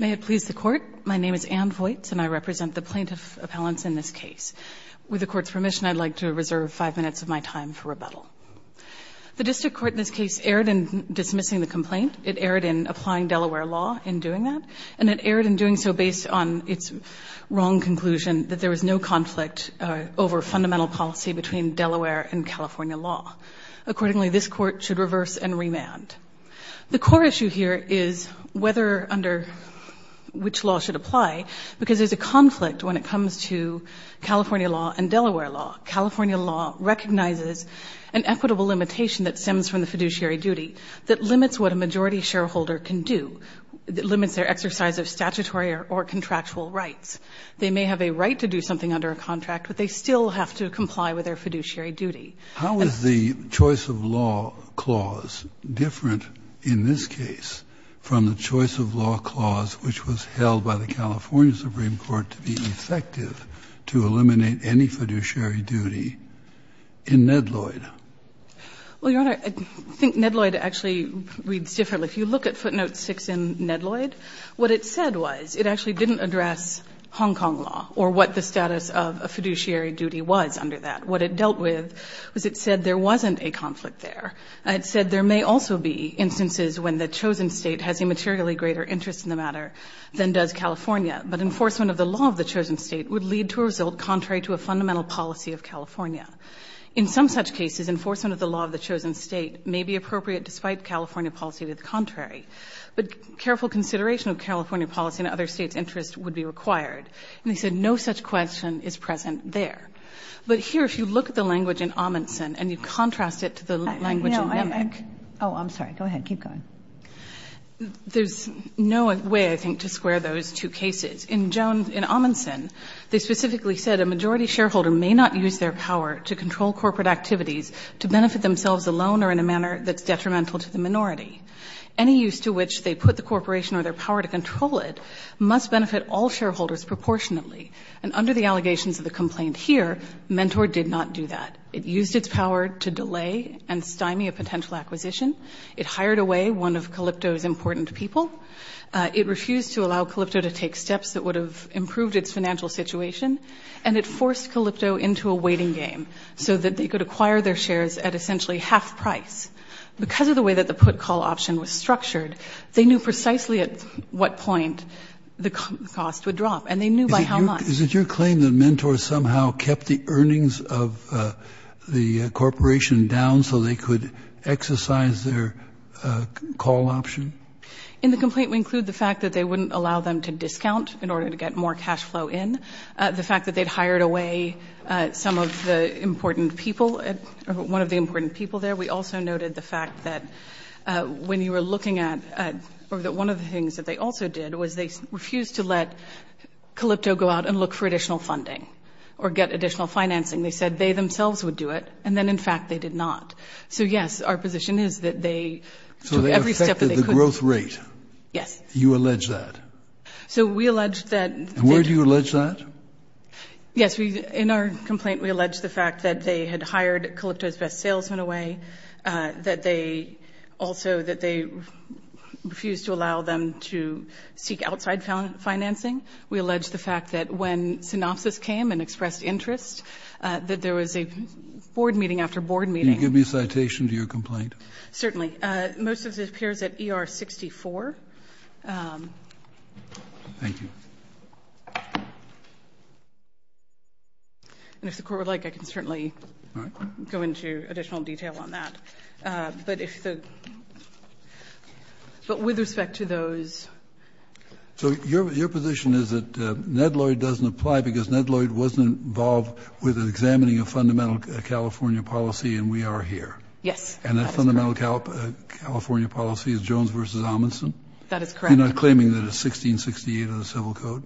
May it please the Court, my name is Anne Vojts and I represent the plaintiff appellants in this case. With the Court's permission, I'd like to reserve five minutes of my time for rebuttal. The District Court in this case erred in dismissing the complaint. It erred in applying Delaware law in doing that, and it erred in doing so based on its wrong conclusion that there was no conflict over fundamental policy between Delaware and California law. Accordingly, this Court should reverse and remand. The core issue here is whether under which law should apply, because there's a conflict when it comes to California law and Delaware law. California law recognizes an equitable limitation that stems from the fiduciary duty that limits what a majority shareholder can do, that limits their exercise of statutory or contractual rights. They may have a right to do something under a contract, but they still have to comply with their fiduciary duty. Kennedy, how is the choice of law clause different in this case from the choice of law clause which was held by the California Supreme Court to be effective to eliminate any fiduciary duty in Nedloyd? Well, Your Honor, I think Nedloyd actually reads differently. If you look at footnote 6 in Nedloyd, what it said was it actually didn't address Hong Kong law or what the status of a fiduciary duty was under that. What it dealt with was it said there wasn't a conflict there. It said there may also be instances when the chosen state has a materially greater interest in the matter than does California, but enforcement of the law of the chosen state would lead to a result contrary to a fundamental policy of California. In some such cases, enforcement of the law of the chosen state may be appropriate despite California policy to the contrary, but careful consideration of California policy and other states' interests would be required. And they said no such question is present there. But here, if you look at the language in Amundsen and you contrast it to the language in Mimic. Kagan. Oh, I'm sorry. Go ahead. Keep going. There's no way, I think, to square those two cases. In Amundsen, they specifically said a majority shareholder may not use their power to control corporate activities to benefit themselves alone or in a manner that's detrimental to the minority. Any use to which they put the corporation or their power to control it must benefit all shareholders proportionately. And under the allegations of the complaint here, Mentor did not do that. It used its power to delay and stymie a potential acquisition. It hired away one of Calipto's important people. It refused to allow Calipto to take steps that would have improved its financial situation, and it forced Calipto into a waiting game so that they could acquire their shares at essentially half price. Because of the way that the put-call option was structured, they knew precisely at what point the cost would drop, and they knew by how much. Is it your claim that Mentor somehow kept the earnings of the corporation down so they could exercise their call option? In the complaint, we include the fact that they wouldn't allow them to discount in order to get more cash flow in. The fact that they'd hired away some of the important people, one of the important people there. We also noted the fact that when you were looking at one of the things that they also did was they refused to let Calipto go out and look for additional funding or get additional financing. They said they themselves would do it, and then, in fact, they did not. So, yes, our position is that they took every step that they could. So they affected the growth rate? Yes. You allege that? So we allege that. And where do you allege that? Yes, in our complaint, we allege the fact that they had hired Calipto's best salesman away, that they also refused to allow them to seek outside financing. We allege the fact that when synopsis came and expressed interest, that there was a board meeting after board meeting. Can you give me a citation to your complaint? Certainly. Most of it appears at ER 64. Thank you. And if the Court would like, I can certainly go into additional detail on that. But with respect to those. So your position is that Ned Lloyd doesn't apply because Ned Lloyd wasn't involved with examining a fundamental California policy, and we are here. Yes, that's correct. And that fundamental California policy is Jones v. Amundson? That is correct. You're not claiming that it's 1668 of the Civil Code?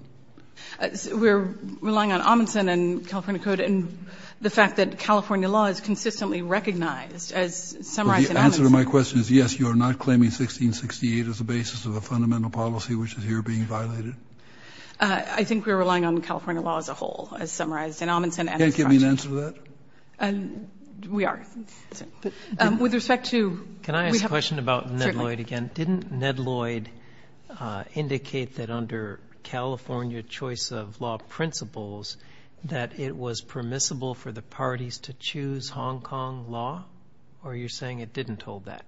We're relying on Amundson and California Code and the fact that California law is consistently recognized, as summarized in Amundson. The answer to my question is yes, you are not claiming 1668 is the basis of a fundamental policy, which is here being violated? I think we're relying on California law as a whole, as summarized in Amundson. Can you give me an answer to that? We are. With respect to... Can I ask a question about Ned Lloyd again? Didn't Ned Lloyd indicate that under California choice of law principles that it was permissible for the parties to choose Hong Kong law, or are you saying it didn't hold that?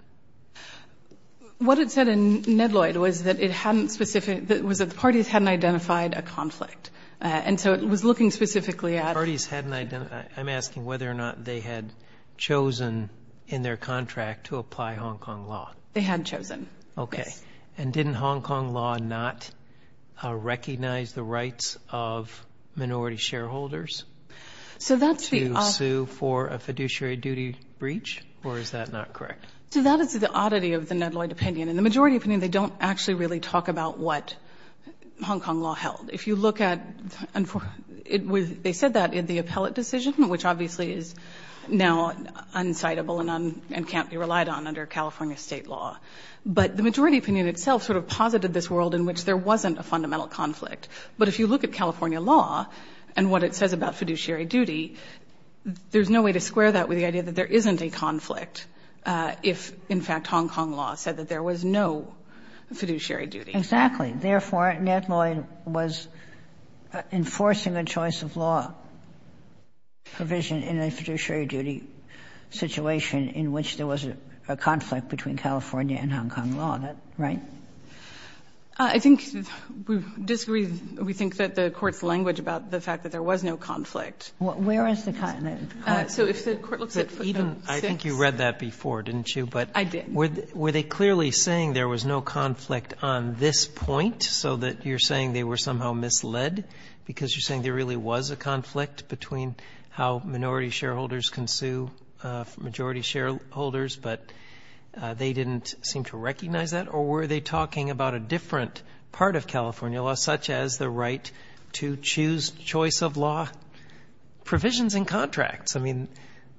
What it said in Ned Lloyd was that the parties hadn't identified a conflict. And so it was looking specifically at... The parties hadn't identified... I'm asking whether or not they had chosen in their contract to apply Hong Kong law. They had chosen. Okay. And didn't Hong Kong law not recognize the rights of minority shareholders? So that's the... To sue for a fiduciary duty breach, or is that not correct? So that is the oddity of the Ned Lloyd opinion. In the majority opinion, they don't actually really talk about what Hong Kong law held. If you look at... They said that in the appellate decision, which obviously is now unsightable and can't be relied on under California state law. But the majority opinion itself sort of posited this world in which there wasn't a fundamental conflict. But if you look at California law and what it says about fiduciary duty, there's no way to square that with the idea that there isn't a conflict if, in fact, Hong Kong law said that there was no fiduciary duty. Exactly. Therefore, Ned Lloyd was enforcing a choice of law provision in a fiduciary duty situation in which there was a conflict between California and Hong Kong law. Is that right? I think we disagree. We think that the Court's language about the fact that there was no conflict. Where is the... So if the Court looks at... Even... I think you read that before, didn't you? I did. But were they clearly saying there was no conflict on this point, so that you're saying they were somehow misled because you're saying there really was a conflict between how minority shareholders can sue majority shareholders, but they didn't seem to recognize that? Or were they talking about a different part of California law, such as the right to choose choice of law provisions in contracts? I mean,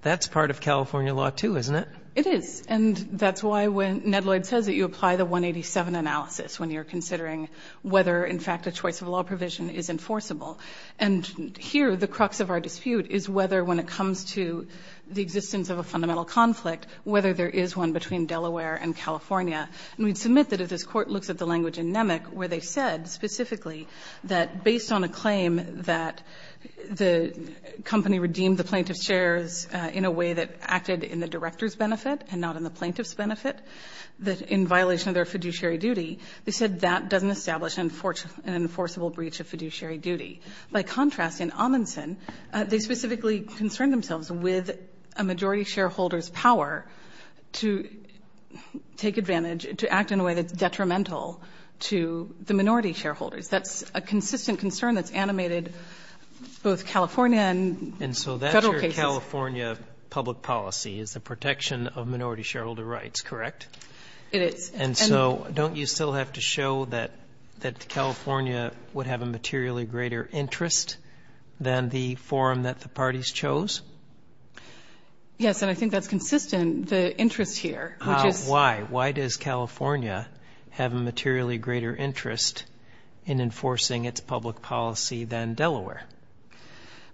that's part of California law, too, isn't it? It is. And that's why when Ned Lloyd says that you apply the 187 analysis when you're considering whether, in fact, a choice of law provision is enforceable. And here, the crux of our dispute is whether when it comes to the existence of a fundamental conflict, whether there is one between Delaware and California. And we'd submit that if this Court looks at the language in Nemec where they said specifically that based on a claim that the company redeemed the plaintiff's shares in a way that acted in the director's benefit and not in the plaintiff's benefit, that in violation of their fiduciary duty, they said that doesn't establish an enforceable breach of fiduciary duty. By contrast, in Amundsen, they specifically concerned themselves with a majority shareholder's power to take advantage, to act in a way that's detrimental to the minority shareholders. That's a consistent concern that's animated both California and Federal cases. And so that's your California public policy is the protection of minority shareholder rights, correct? It is. And so don't you still have to show that California would have a materially greater interest than the forum that the parties chose? Yes, and I think that's consistent, the interest here. Why? Why does California have a materially greater interest in enforcing its public policy than Delaware?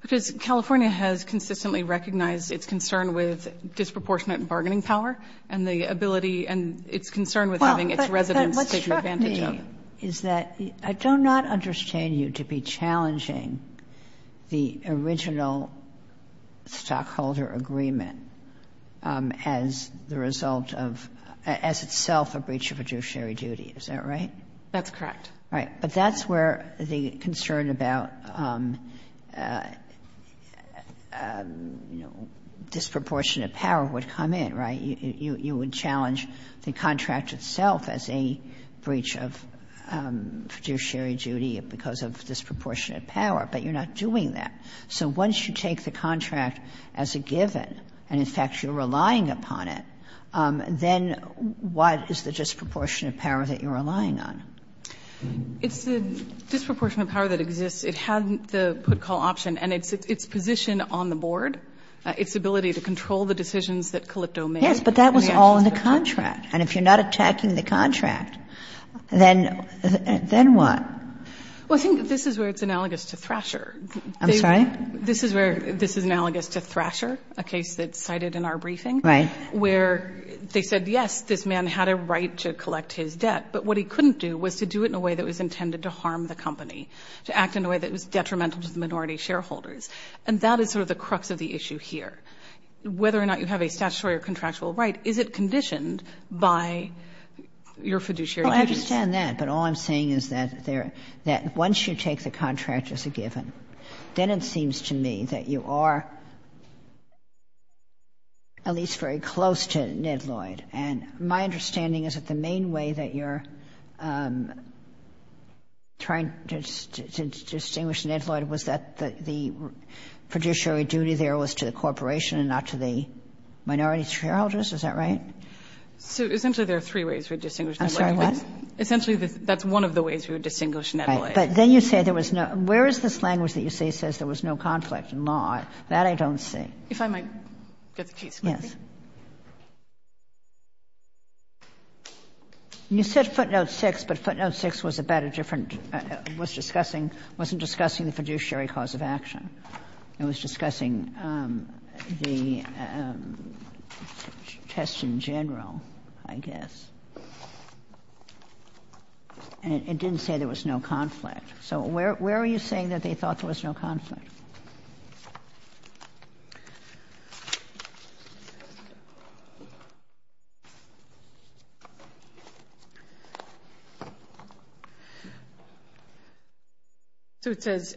Because California has consistently recognized its concern with having its residents take advantage of it. But what struck me is that I do not understand you to be challenging the original stockholder agreement as the result of, as itself a breach of fiduciary duty. Is that right? That's correct. Right. But that's where the concern about, you know, disproportionate power would come in, right? You would challenge the contract itself as a breach of fiduciary duty because of disproportionate power, but you're not doing that. So once you take the contract as a given and, in fact, you're relying upon it, then what is the disproportionate power that you're relying on? It's the disproportionate power that exists. It had the put-call option and its position on the board, its ability to control the decisions that Calipto made. Yes, but that was all in the contract. And if you're not attacking the contract, then what? Well, I think this is where it's analogous to Thrasher. I'm sorry? This is where this is analogous to Thrasher, a case that's cited in our briefing. Right. Where they said, yes, this man had a right to collect his debt, but what he couldn't do was to do it in a way that was intended to harm the company, to act in a way that was detrimental to the minority shareholders. And that is sort of the crux of the issue here. Whether or not you have a statutory or contractual right, is it conditioned by your fiduciary duties? Well, I understand that, but all I'm saying is that once you take the contract as a given, then it seems to me that you are at least very close to Ned Lloyd. And my understanding is that the main way that you're trying to distinguish Ned Lloyd was that the fiduciary duty there was to the corporation and not to the minority shareholders. Is that right? So essentially, there are three ways we distinguish Ned Lloyd. I'm sorry, what? Essentially, that's one of the ways we would distinguish Ned Lloyd. Right. But then you say there was no – where is this language that you say says there was no conflict in law? That I don't see. If I might get the case, please. Yes. You said footnote 6, but footnote 6 was about a different – was discussing the fiduciary cause of action. It was discussing the test in general, I guess. And it didn't say there was no conflict. So where are you saying that they thought there was no conflict? Thank you. So it says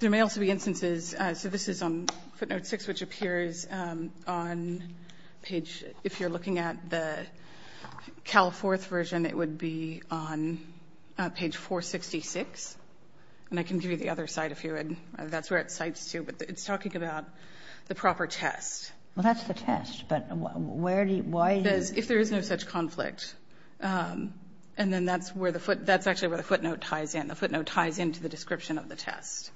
there may also be instances – so this is on footnote 6, which appears on page – if you're looking at the Cal-4th version, it would be on page 466. And I can give you the other side if you would. That's where it cites to. But it's talking about the proper test. Well, that's the test. But where do you – why do you? Because if there is no such conflict, and then that's where the foot – that's actually where the footnote ties in. The footnote ties into the description of the test.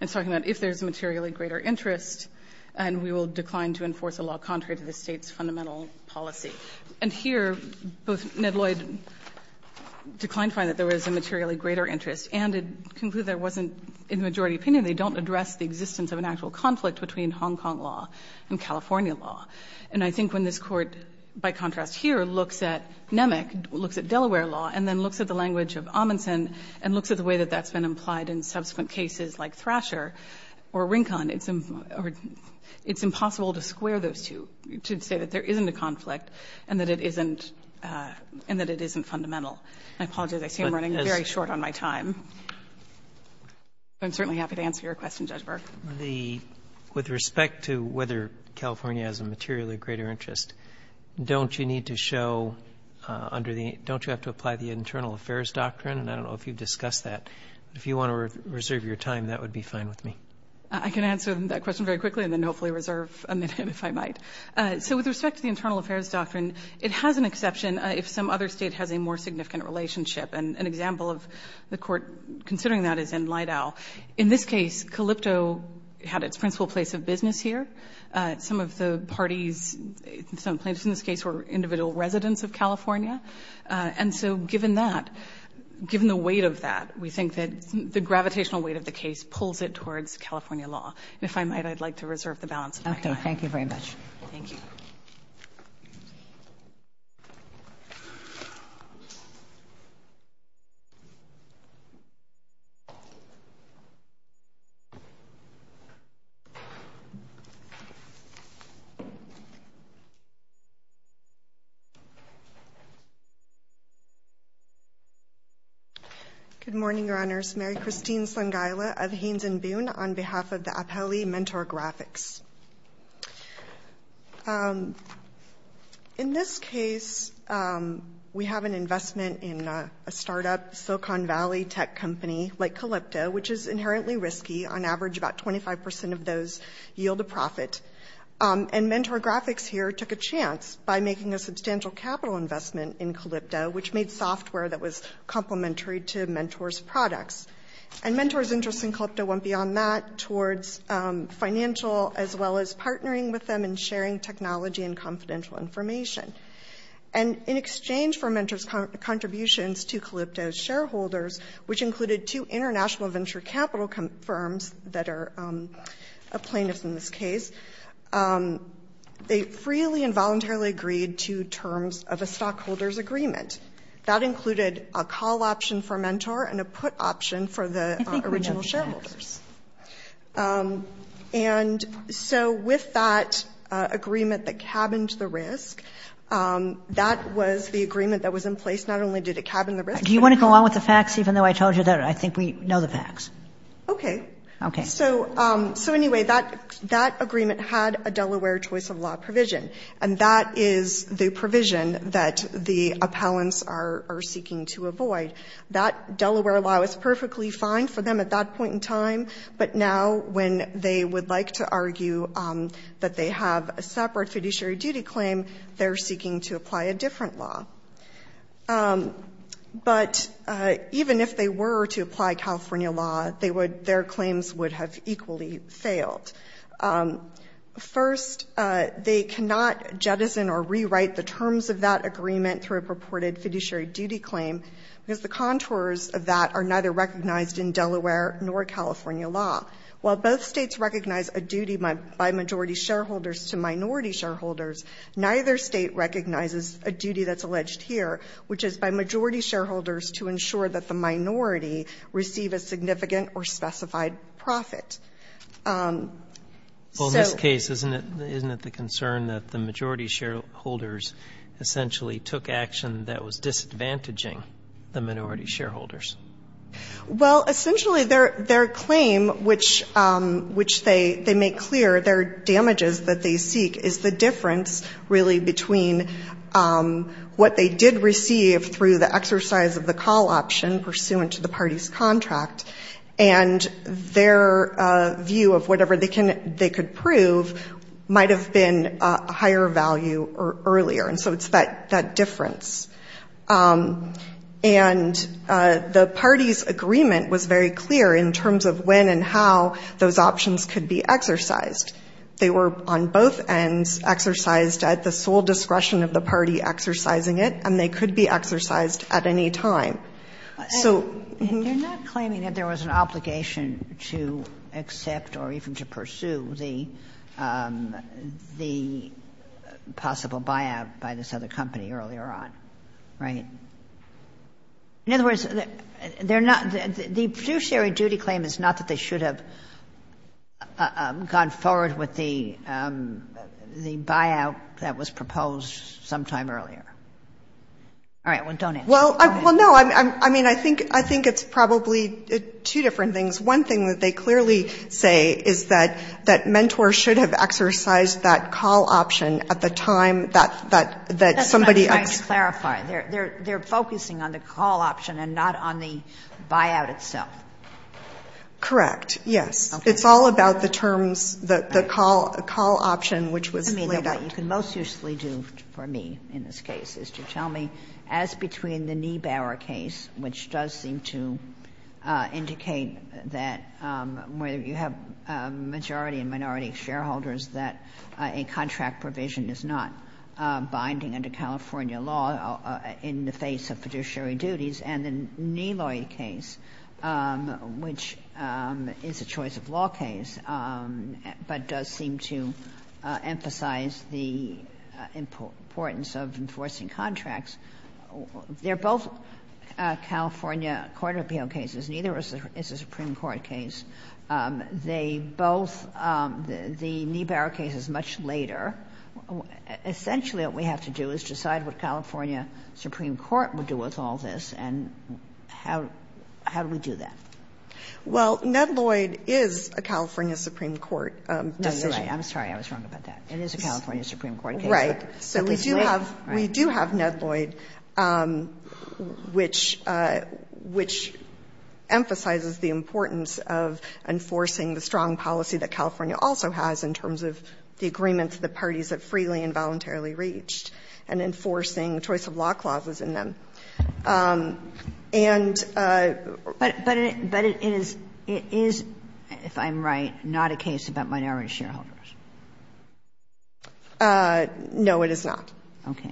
It's talking about if there's a materially greater interest, and we will decline to enforce a law contrary to the State's fundamental policy. And here, both Ned Lloyd declined to find that there was a materially greater interest, and it concluded there wasn't, in the majority opinion, they don't address the existence of an actual conflict between Hong Kong law and California law. And I think when this Court, by contrast here, looks at Nemec, looks at Delaware law, and then looks at the language of Amundsen, and looks at the way that that's been implied in subsequent cases like Thrasher or Rincon, it's impossible to square those two, to say that there isn't a conflict and that it isn't fundamental. I apologize. I see I'm running very short on my time. I'm certainly happy to answer your question, Judge Burke. With respect to whether California has a materially greater interest, don't you need to show under the – don't you have to apply the internal affairs doctrine? And I don't know if you've discussed that. If you want to reserve your time, that would be fine with me. I can answer that question very quickly and then hopefully reserve a minute if I might. So with respect to the internal affairs doctrine, it has an exception if some other state has a more significant relationship. And an example of the Court considering that is in Lideau. In this case, Calypto had its principal place of business here. Some of the parties – some plaintiffs in this case were individual residents of California. And so given that, given the weight of that, we think that the gravitational weight of the case pulls it towards California law. And if I might, I'd like to reserve the balance of my time. Okay. Thank you very much. Thank you. Good morning, Your Honors. Mary Christine Sangaila of Haynes & Boone on behalf of the Apelli Mentor Graphics. In this case, we have an investment in a startup, Silicon Valley Tech Company, like Calypto, which is inherently risky. On average, about 25 percent of those yield a profit. And Mentor Graphics here took a chance by making a substantial capital investment in Calypto, which made software that was complementary to Mentor's products. And Mentor's interest in Calypto went beyond that towards financial as well as partnering with them and sharing technology and confidential information. And in exchange for Mentor's contributions to Calypto's shareholders, which included two international venture capital firms that are plaintiffs in this case, they freely and voluntarily agreed to terms of a stockholder's agreement. That included a call option for Mentor and a put option for the original shareholders. I think we know the facts. And so with that agreement that cabined the risk, that was the agreement that was in place. Not only did it cabin the risk. Do you want to go along with the facts, even though I told you that I think we know the facts? Okay. Okay. So anyway, that agreement had a Delaware choice of law provision. And that is the provision that the appellants are seeking to avoid. That Delaware law is perfectly fine for them at that point in time. But now when they would like to argue that they have a separate fiduciary duty claim, they're seeking to apply a different law. But even if they were to apply California law, their claims would have equally failed. First, they cannot jettison or rewrite the terms of that agreement through a purported fiduciary duty claim, because the contours of that are neither recognized in Delaware nor California law. While both states recognize a duty by majority shareholders to minority shareholders, neither state recognizes a duty that's alleged here, which is by majority shareholders to ensure that the minority receive a significant or specified profit. So. Well, in this case, isn't it the concern that the majority shareholders essentially took action that was disadvantaging the minority shareholders? Well, essentially, their claim, which they make clear, their damages that they seek, is the difference, really, between what they did receive through the exercise of the call option, pursuant to the party's contract, and their view of whatever they could prove might have been a higher value earlier. And so it's that difference. And the party's agreement was very clear in terms of when and how those options could be exercised. They were on both ends exercised at the sole discretion of the party exercising it, and they could be exercised at any time. So. They're not claiming that there was an obligation to accept or even to pursue the possible buyout by this other company earlier on, right? In other words, they're not the fiduciary duty claim is not that they should have gone forward with the buyout that was proposed sometime earlier. All right. Well, don't answer. Well, no. I mean, I think it's probably two different things. One thing that they clearly say is that mentors should have exercised that call option at the time that somebody. That's what I'm trying to clarify. They're focusing on the call option and not on the buyout itself. Correct. Yes. It's all about the terms, the call option, which was laid out. I mean, what you can most usefully do for me in this case is to tell me, as between the Niebauer case, which does seem to indicate that whether you have majority and minority shareholders, that a contract provision is not binding under California law in the face of fiduciary duties, and the Neloi case, which is a choice-of-law case, but does seem to emphasize the importance of enforcing contracts. They're both California court appeal cases. Neither is a Supreme Court case. They both the Niebauer case is much later. Essentially, what we have to do is decide what California Supreme Court would do with all this, and how do we do that? Well, Ned Lloyd is a California Supreme Court decision. No, you're right. I'm sorry. I was wrong about that. It is a California Supreme Court case. Right. So we do have Ned Lloyd, which emphasizes the importance of enforcing the strong policy that California also has in terms of the agreement to the parties that freely and voluntarily reached, and enforcing choice-of-law clauses in them. And we're trying to do that. But it is, if I'm right, not a case about minority shareholders? No, it is not. Okay.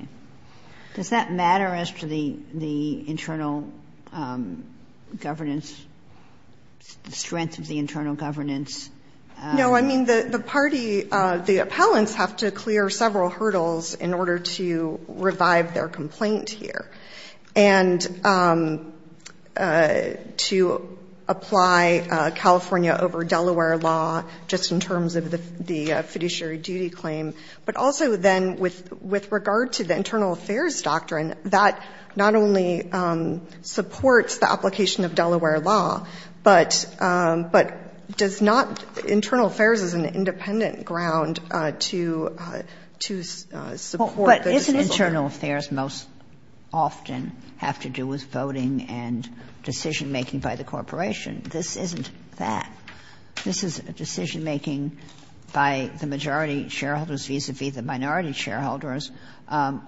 Does that matter as to the internal governance, the strength of the internal governance? No. I mean, the party, the appellants have to clear several hurdles in order to revive their complaint here, and to apply California over Delaware law just in terms of the fiduciary duty claim. But also then with regard to the internal affairs doctrine, that not only supports the application of Delaware law, but does not – internal affairs is an independent ground to support the dismissal. But isn't internal affairs most often have to do with voting and decision-making by the corporation? This isn't that. This is a decision-making by the majority shareholders vis-a-vis the minority shareholders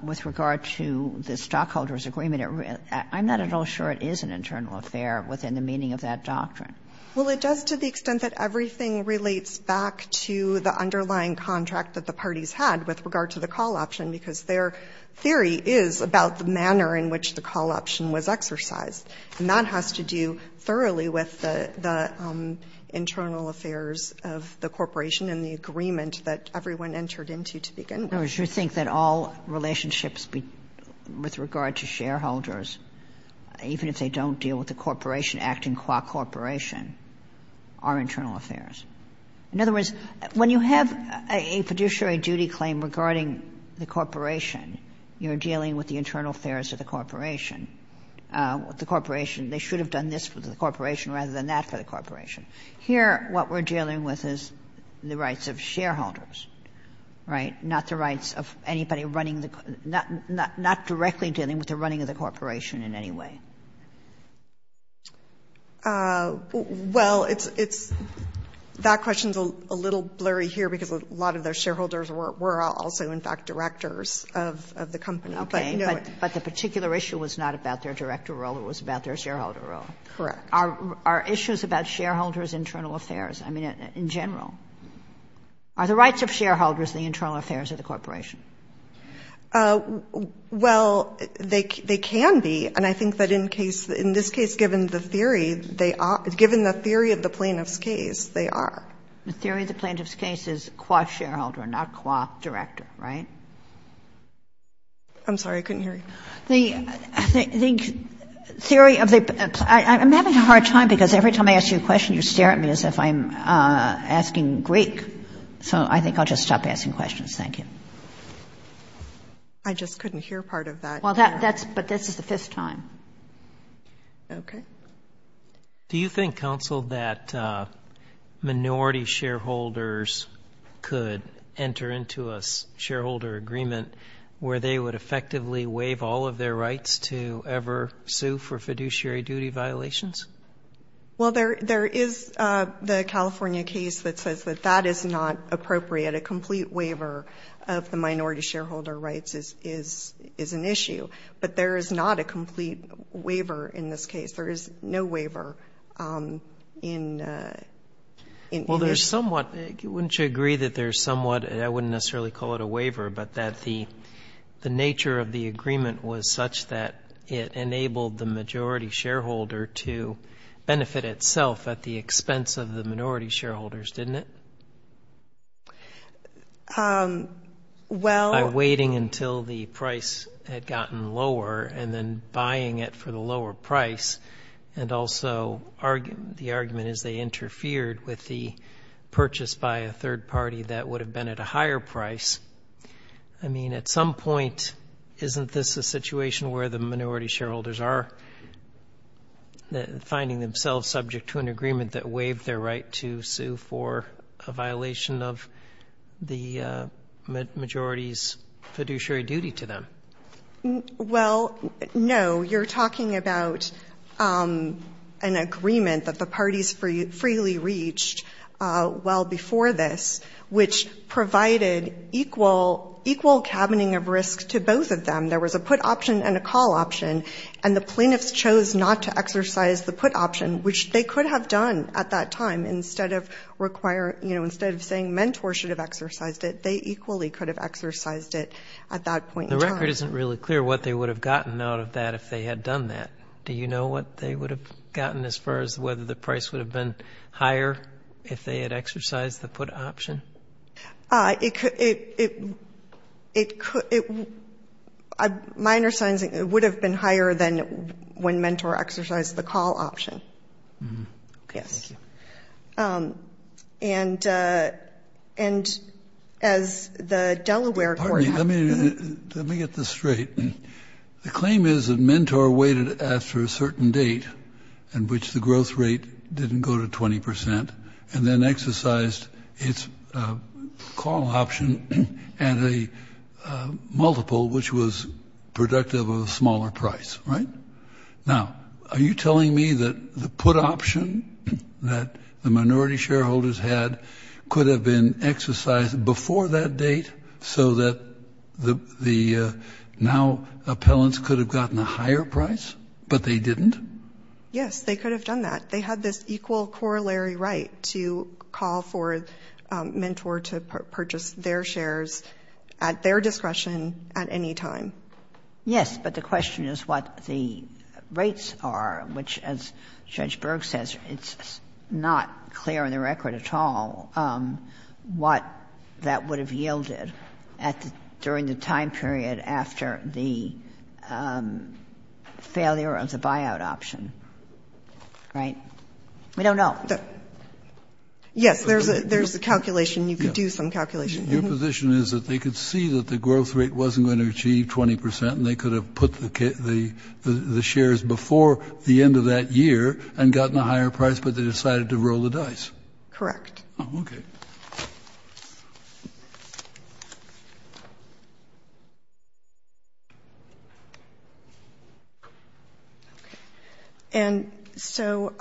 with regard to the stockholders agreement. I'm not at all sure it is an internal affair within the meaning of that doctrine. Well, it does to the extent that everything relates back to the underlying contract that the parties had with regard to the call option, because their theory is about the manner in which the call option was exercised. And that has to do thoroughly with the internal affairs of the corporation and the agreement that everyone entered into to begin with. Kagan, do you think that all relationships with regard to shareholders, even if they don't deal with the corporation acting qua corporation, are internal affairs? In other words, when you have a fiduciary duty claim regarding the corporation, you're dealing with the internal affairs of the corporation. The corporation, they should have done this for the corporation rather than that for the corporation. Here what we're dealing with is the rights of shareholders, right, not the rights of anybody running the, not directly dealing with the running of the corporation in any way. Well, it's, it's, that question's a little blurry here because a lot of the shareholders were also in fact directors of the company, but you know it. Okay, but the particular issue was not about their director role, it was about their shareholder role. Correct. Are issues about shareholders' internal affairs, I mean, in general, are the rights of shareholders the internal affairs of the corporation? Well, they, they can be, and I think that in case, in this case, given the theory, they are, given the theory of the plaintiff's case, they are. The theory of the plaintiff's case is qua shareholder, not qua director, right? I'm sorry, I couldn't hear you. The, I think, theory of the, I'm having a hard time because every time I ask you a question, I'm asking Greek, so I think I'll just stop asking questions. Thank you. I just couldn't hear part of that. Well, that, that's, but this is the fifth time. Okay. Do you think, counsel, that minority shareholders could enter into a shareholder agreement where they would effectively waive all of their rights to ever sue for fiduciary duty violations? Well, there, there is the California case that says that that is not appropriate. A complete waiver of the minority shareholder rights is, is, is an issue, but there is not a complete waiver in this case. There is no waiver in, in, in this. Well, there's somewhat, wouldn't you agree that there's somewhat, I wouldn't necessarily call it a waiver, but that the, the nature of the agreement was such that it enabled the majority shareholder to benefit itself at the expense of the minority shareholders, didn't it? Well. By waiting until the price had gotten lower and then buying it for the lower price, and also, the argument is they interfered with the purchase by a third party that would have been at a higher price. I mean, at some point, isn't this a situation where the minority shareholders are finding themselves subject to an agreement that waived their right to sue for a violation of the majority's fiduciary duty to them? Well, no. You're talking about an agreement that the parties freely reached well before this, which provided equal, equal cabining of risk to both of them. There was a put option and a call option, and the plaintiffs chose not to exercise the put option, which they could have done at that time. Instead of requiring, you know, instead of saying mentors should have exercised it, they equally could have exercised it at that point in time. The record isn't really clear what they would have gotten out of that if they had done that. Do you know what they would have gotten as far as whether the price would have been higher if they had exercised the put option? It, it, it, it, minor signs it would have been higher than when mentor exercised the call option. Okay. Thank you. Yes. And, and, as the Delaware court- Pardon me. Let me, let me get this straight. The claim is that mentor waited after a certain date in which the growth rate didn't go to 20% and then exercised its call option at a multiple which was productive of a smaller price. Right? Now, are you telling me that the put option that the minority shareholders had could have been exercised before that date so that the, the now appellants could have gotten a higher price but they didn't? Yes. They could have done that. They had this equal corollary right to call for mentor to purchase their shares at their discretion at any time. Yes. But the question is what the rates are, which, as Judge Berg says, it's not clear in the record at all what that would have yielded at the, during the time period after the failure of the buyout option. Right? We don't know. Yes. There's a, there's a calculation. You could do some calculation. Your position is that they could see that the growth rate wasn't going to achieve 20% and they could have put the, the shares before the end of that year and gotten Correct. Okay. Thank you. Thank you. Thank you. Thank you. Thank you. Thank you. Thank you. Thank you. Thank you. Thank you. Thank you. Thank you. And so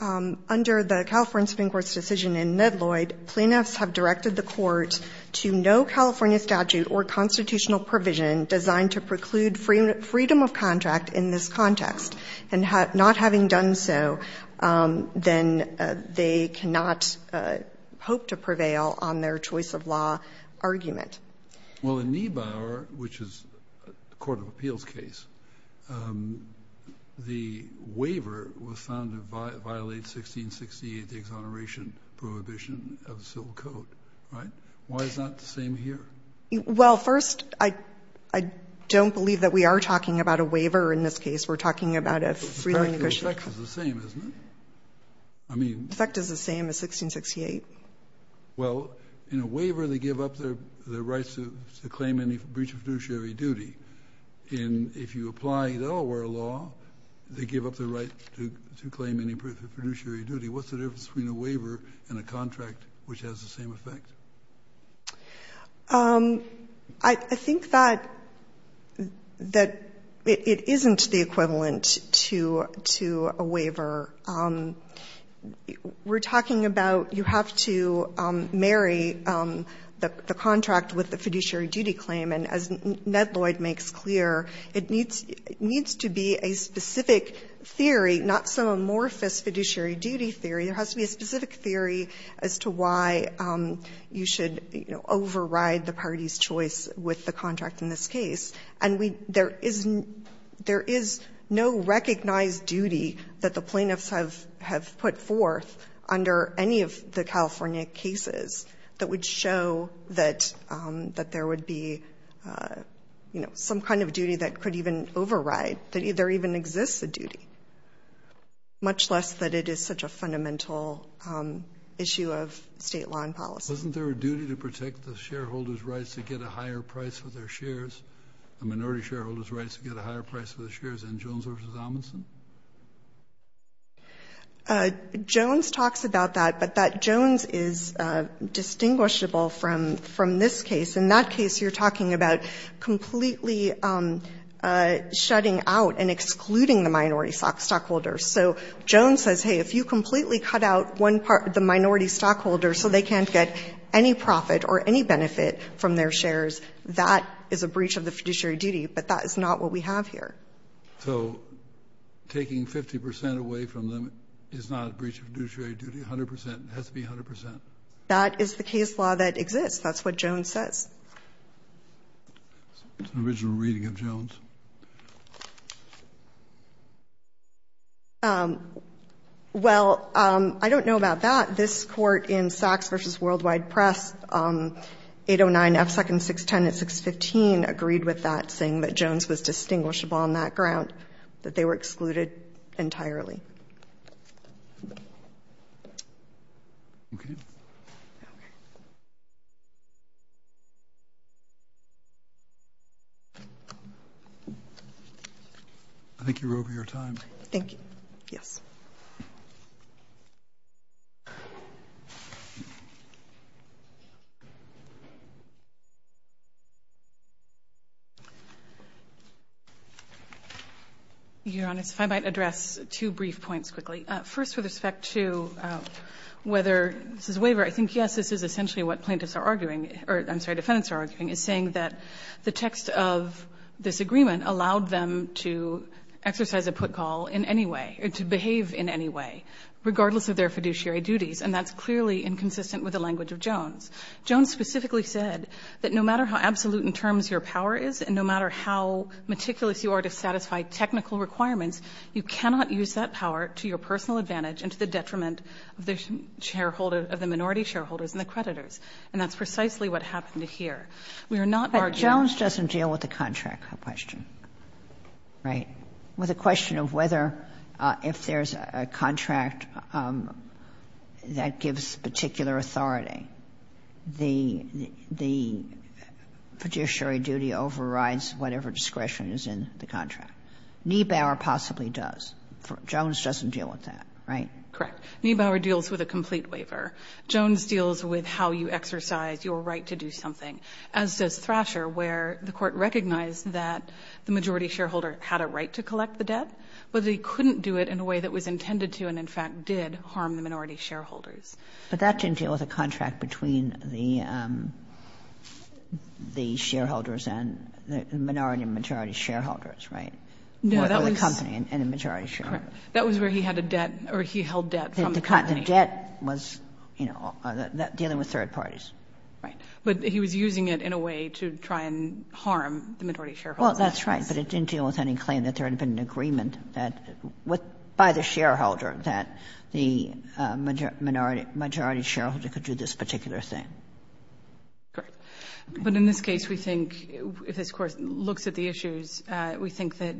under the California Supreme Court's decision in Medloyd, plaintiffs have directed the court to no California statute or constitutional provision designed to preclude freedom of contract in this context. And not having done so, then they cannot hope to prevail on their choice of law argument. Well, in Niebauer, which is a court of appeals case, the waiver was found to violate 1668, the exoneration prohibition of the civil code. Right? Why is that the same here? Well, first, I, I don't believe that we are talking about a waiver in this case. We're talking about a free negotiation. The effect is the same, isn't it? I mean. The effect is the same as 1668. Well, in a waiver, they give up their, their rights to, to claim any breach of fiduciary duty. And if you apply Delaware law, they give up their right to, to claim any fiduciary duty. What's the difference between a waiver and a contract which has the same effect? I, I think that, that it, it isn't the equivalent to, to a waiver. We're talking about you have to marry the, the contract with the fiduciary duty claim. And as Ned Lloyd makes clear, it needs, it needs to be a specific theory, not some amorphous fiduciary duty theory. There has to be a specific theory as to why you should, you know, override the party's choice with the contract in this case. And we, there is, there is no recognized duty that the plaintiffs have, have put forth under any of the California cases that would show that, that there would be, you know, some kind of duty that could even override, that either even exists a duty, much less that it is such a fundamental issue of state law and policy. Kennedy, wasn't there a duty to protect the shareholders' rights to get a higher price for their shares, the minority shareholders' rights to get a higher price for their shares in Jones v. Amundson? Jones talks about that, but that Jones is distinguishable from, from this case. In that case, you're talking about completely shutting out and excluding the minority stockholders. So Jones says, hey, if you completely cut out one part, the minority stockholders so they can't get any profit or any benefit from their shares, that is a breach of the fiduciary duty. But that is not what we have here. So taking 50 percent away from them is not a breach of fiduciary duty, 100 percent? It has to be 100 percent? That is the case law that exists. It's an original reading of Jones. Well, I don't know about that. This Court in Sachs v. Worldwide Press, 809 F. Second 610 and 615, agreed with that, saying that Jones was distinguishable on that ground, that they were excluded entirely. Okay. I think you're over your time. Thank you. Yes. Your Honor, if I might address two brief points quickly. First, with respect to whether this is a waiver, I think, yes, this is essentially what plaintiffs are arguing, or I'm sorry, defendants are arguing, is saying that the fiduciary duties, and that's clearly inconsistent with the language of Jones. Jones specifically said that no matter how absolute in terms your power is and no matter how meticulous you are to satisfy technical requirements, you cannot use that power to your personal advantage and to the detriment of the shareholder, of the minority shareholders and the creditors. And that's precisely what happened here. We are not arguing. But Jones doesn't deal with the contract question, right, with the question of whether if there's a contract that gives particular authority, the fiduciary duty overrides whatever discretion is in the contract. Niebauer possibly does. Jones doesn't deal with that, right? Correct. Niebauer deals with a complete waiver. Jones deals with how you exercise your right to do something, as does Thrasher, where the Court recognized that the majority shareholder had a right to collect the debt, but they couldn't do it in a way that was intended to and, in fact, did harm the minority shareholders. But that didn't deal with a contract between the shareholders and the minority and majority shareholders, right? No, that was the company and the majority shareholder. That was where he had a debt or he held debt from the company. The debt was, you know, dealing with third parties. Right. But he was using it in a way to try and harm the minority shareholders. Well, that's right. But it didn't deal with any claim that there had been an agreement that by the shareholder that the majority shareholder could do this particular thing. Correct. But in this case, we think, if this Court looks at the issues, we think that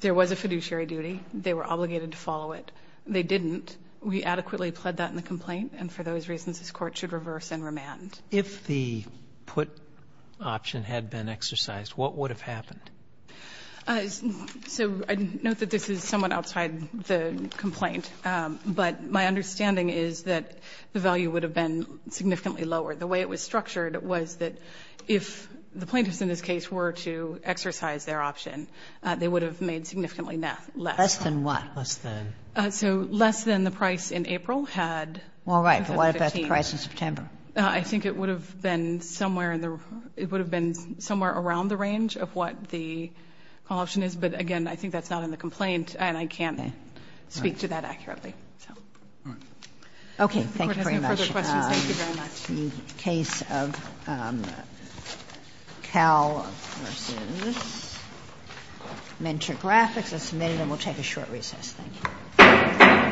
there was a fiduciary duty, they were obligated to follow it. They didn't. We adequately pled that in the complaint, and for those reasons this Court should reverse and remand. If the put option had been exercised, what would have happened? So I note that this is somewhat outside the complaint, but my understanding is that the value would have been significantly lower. The way it was structured was that if the plaintiffs in this case were to exercise their option, they would have made significantly less. Less than what? Less than. So less than the price in April had. Well, right. But what about the price in September? I think it would have been somewhere in the room. It would have been somewhere around the range of what the call option is. But again, I think that's not in the complaint, and I can't speak to that accurately. All right. Thank you very much. If the Court has no further questions, thank you very much. The case of Cal v. Mentor Graphics is submitted, and we'll take a short recess. Thank you.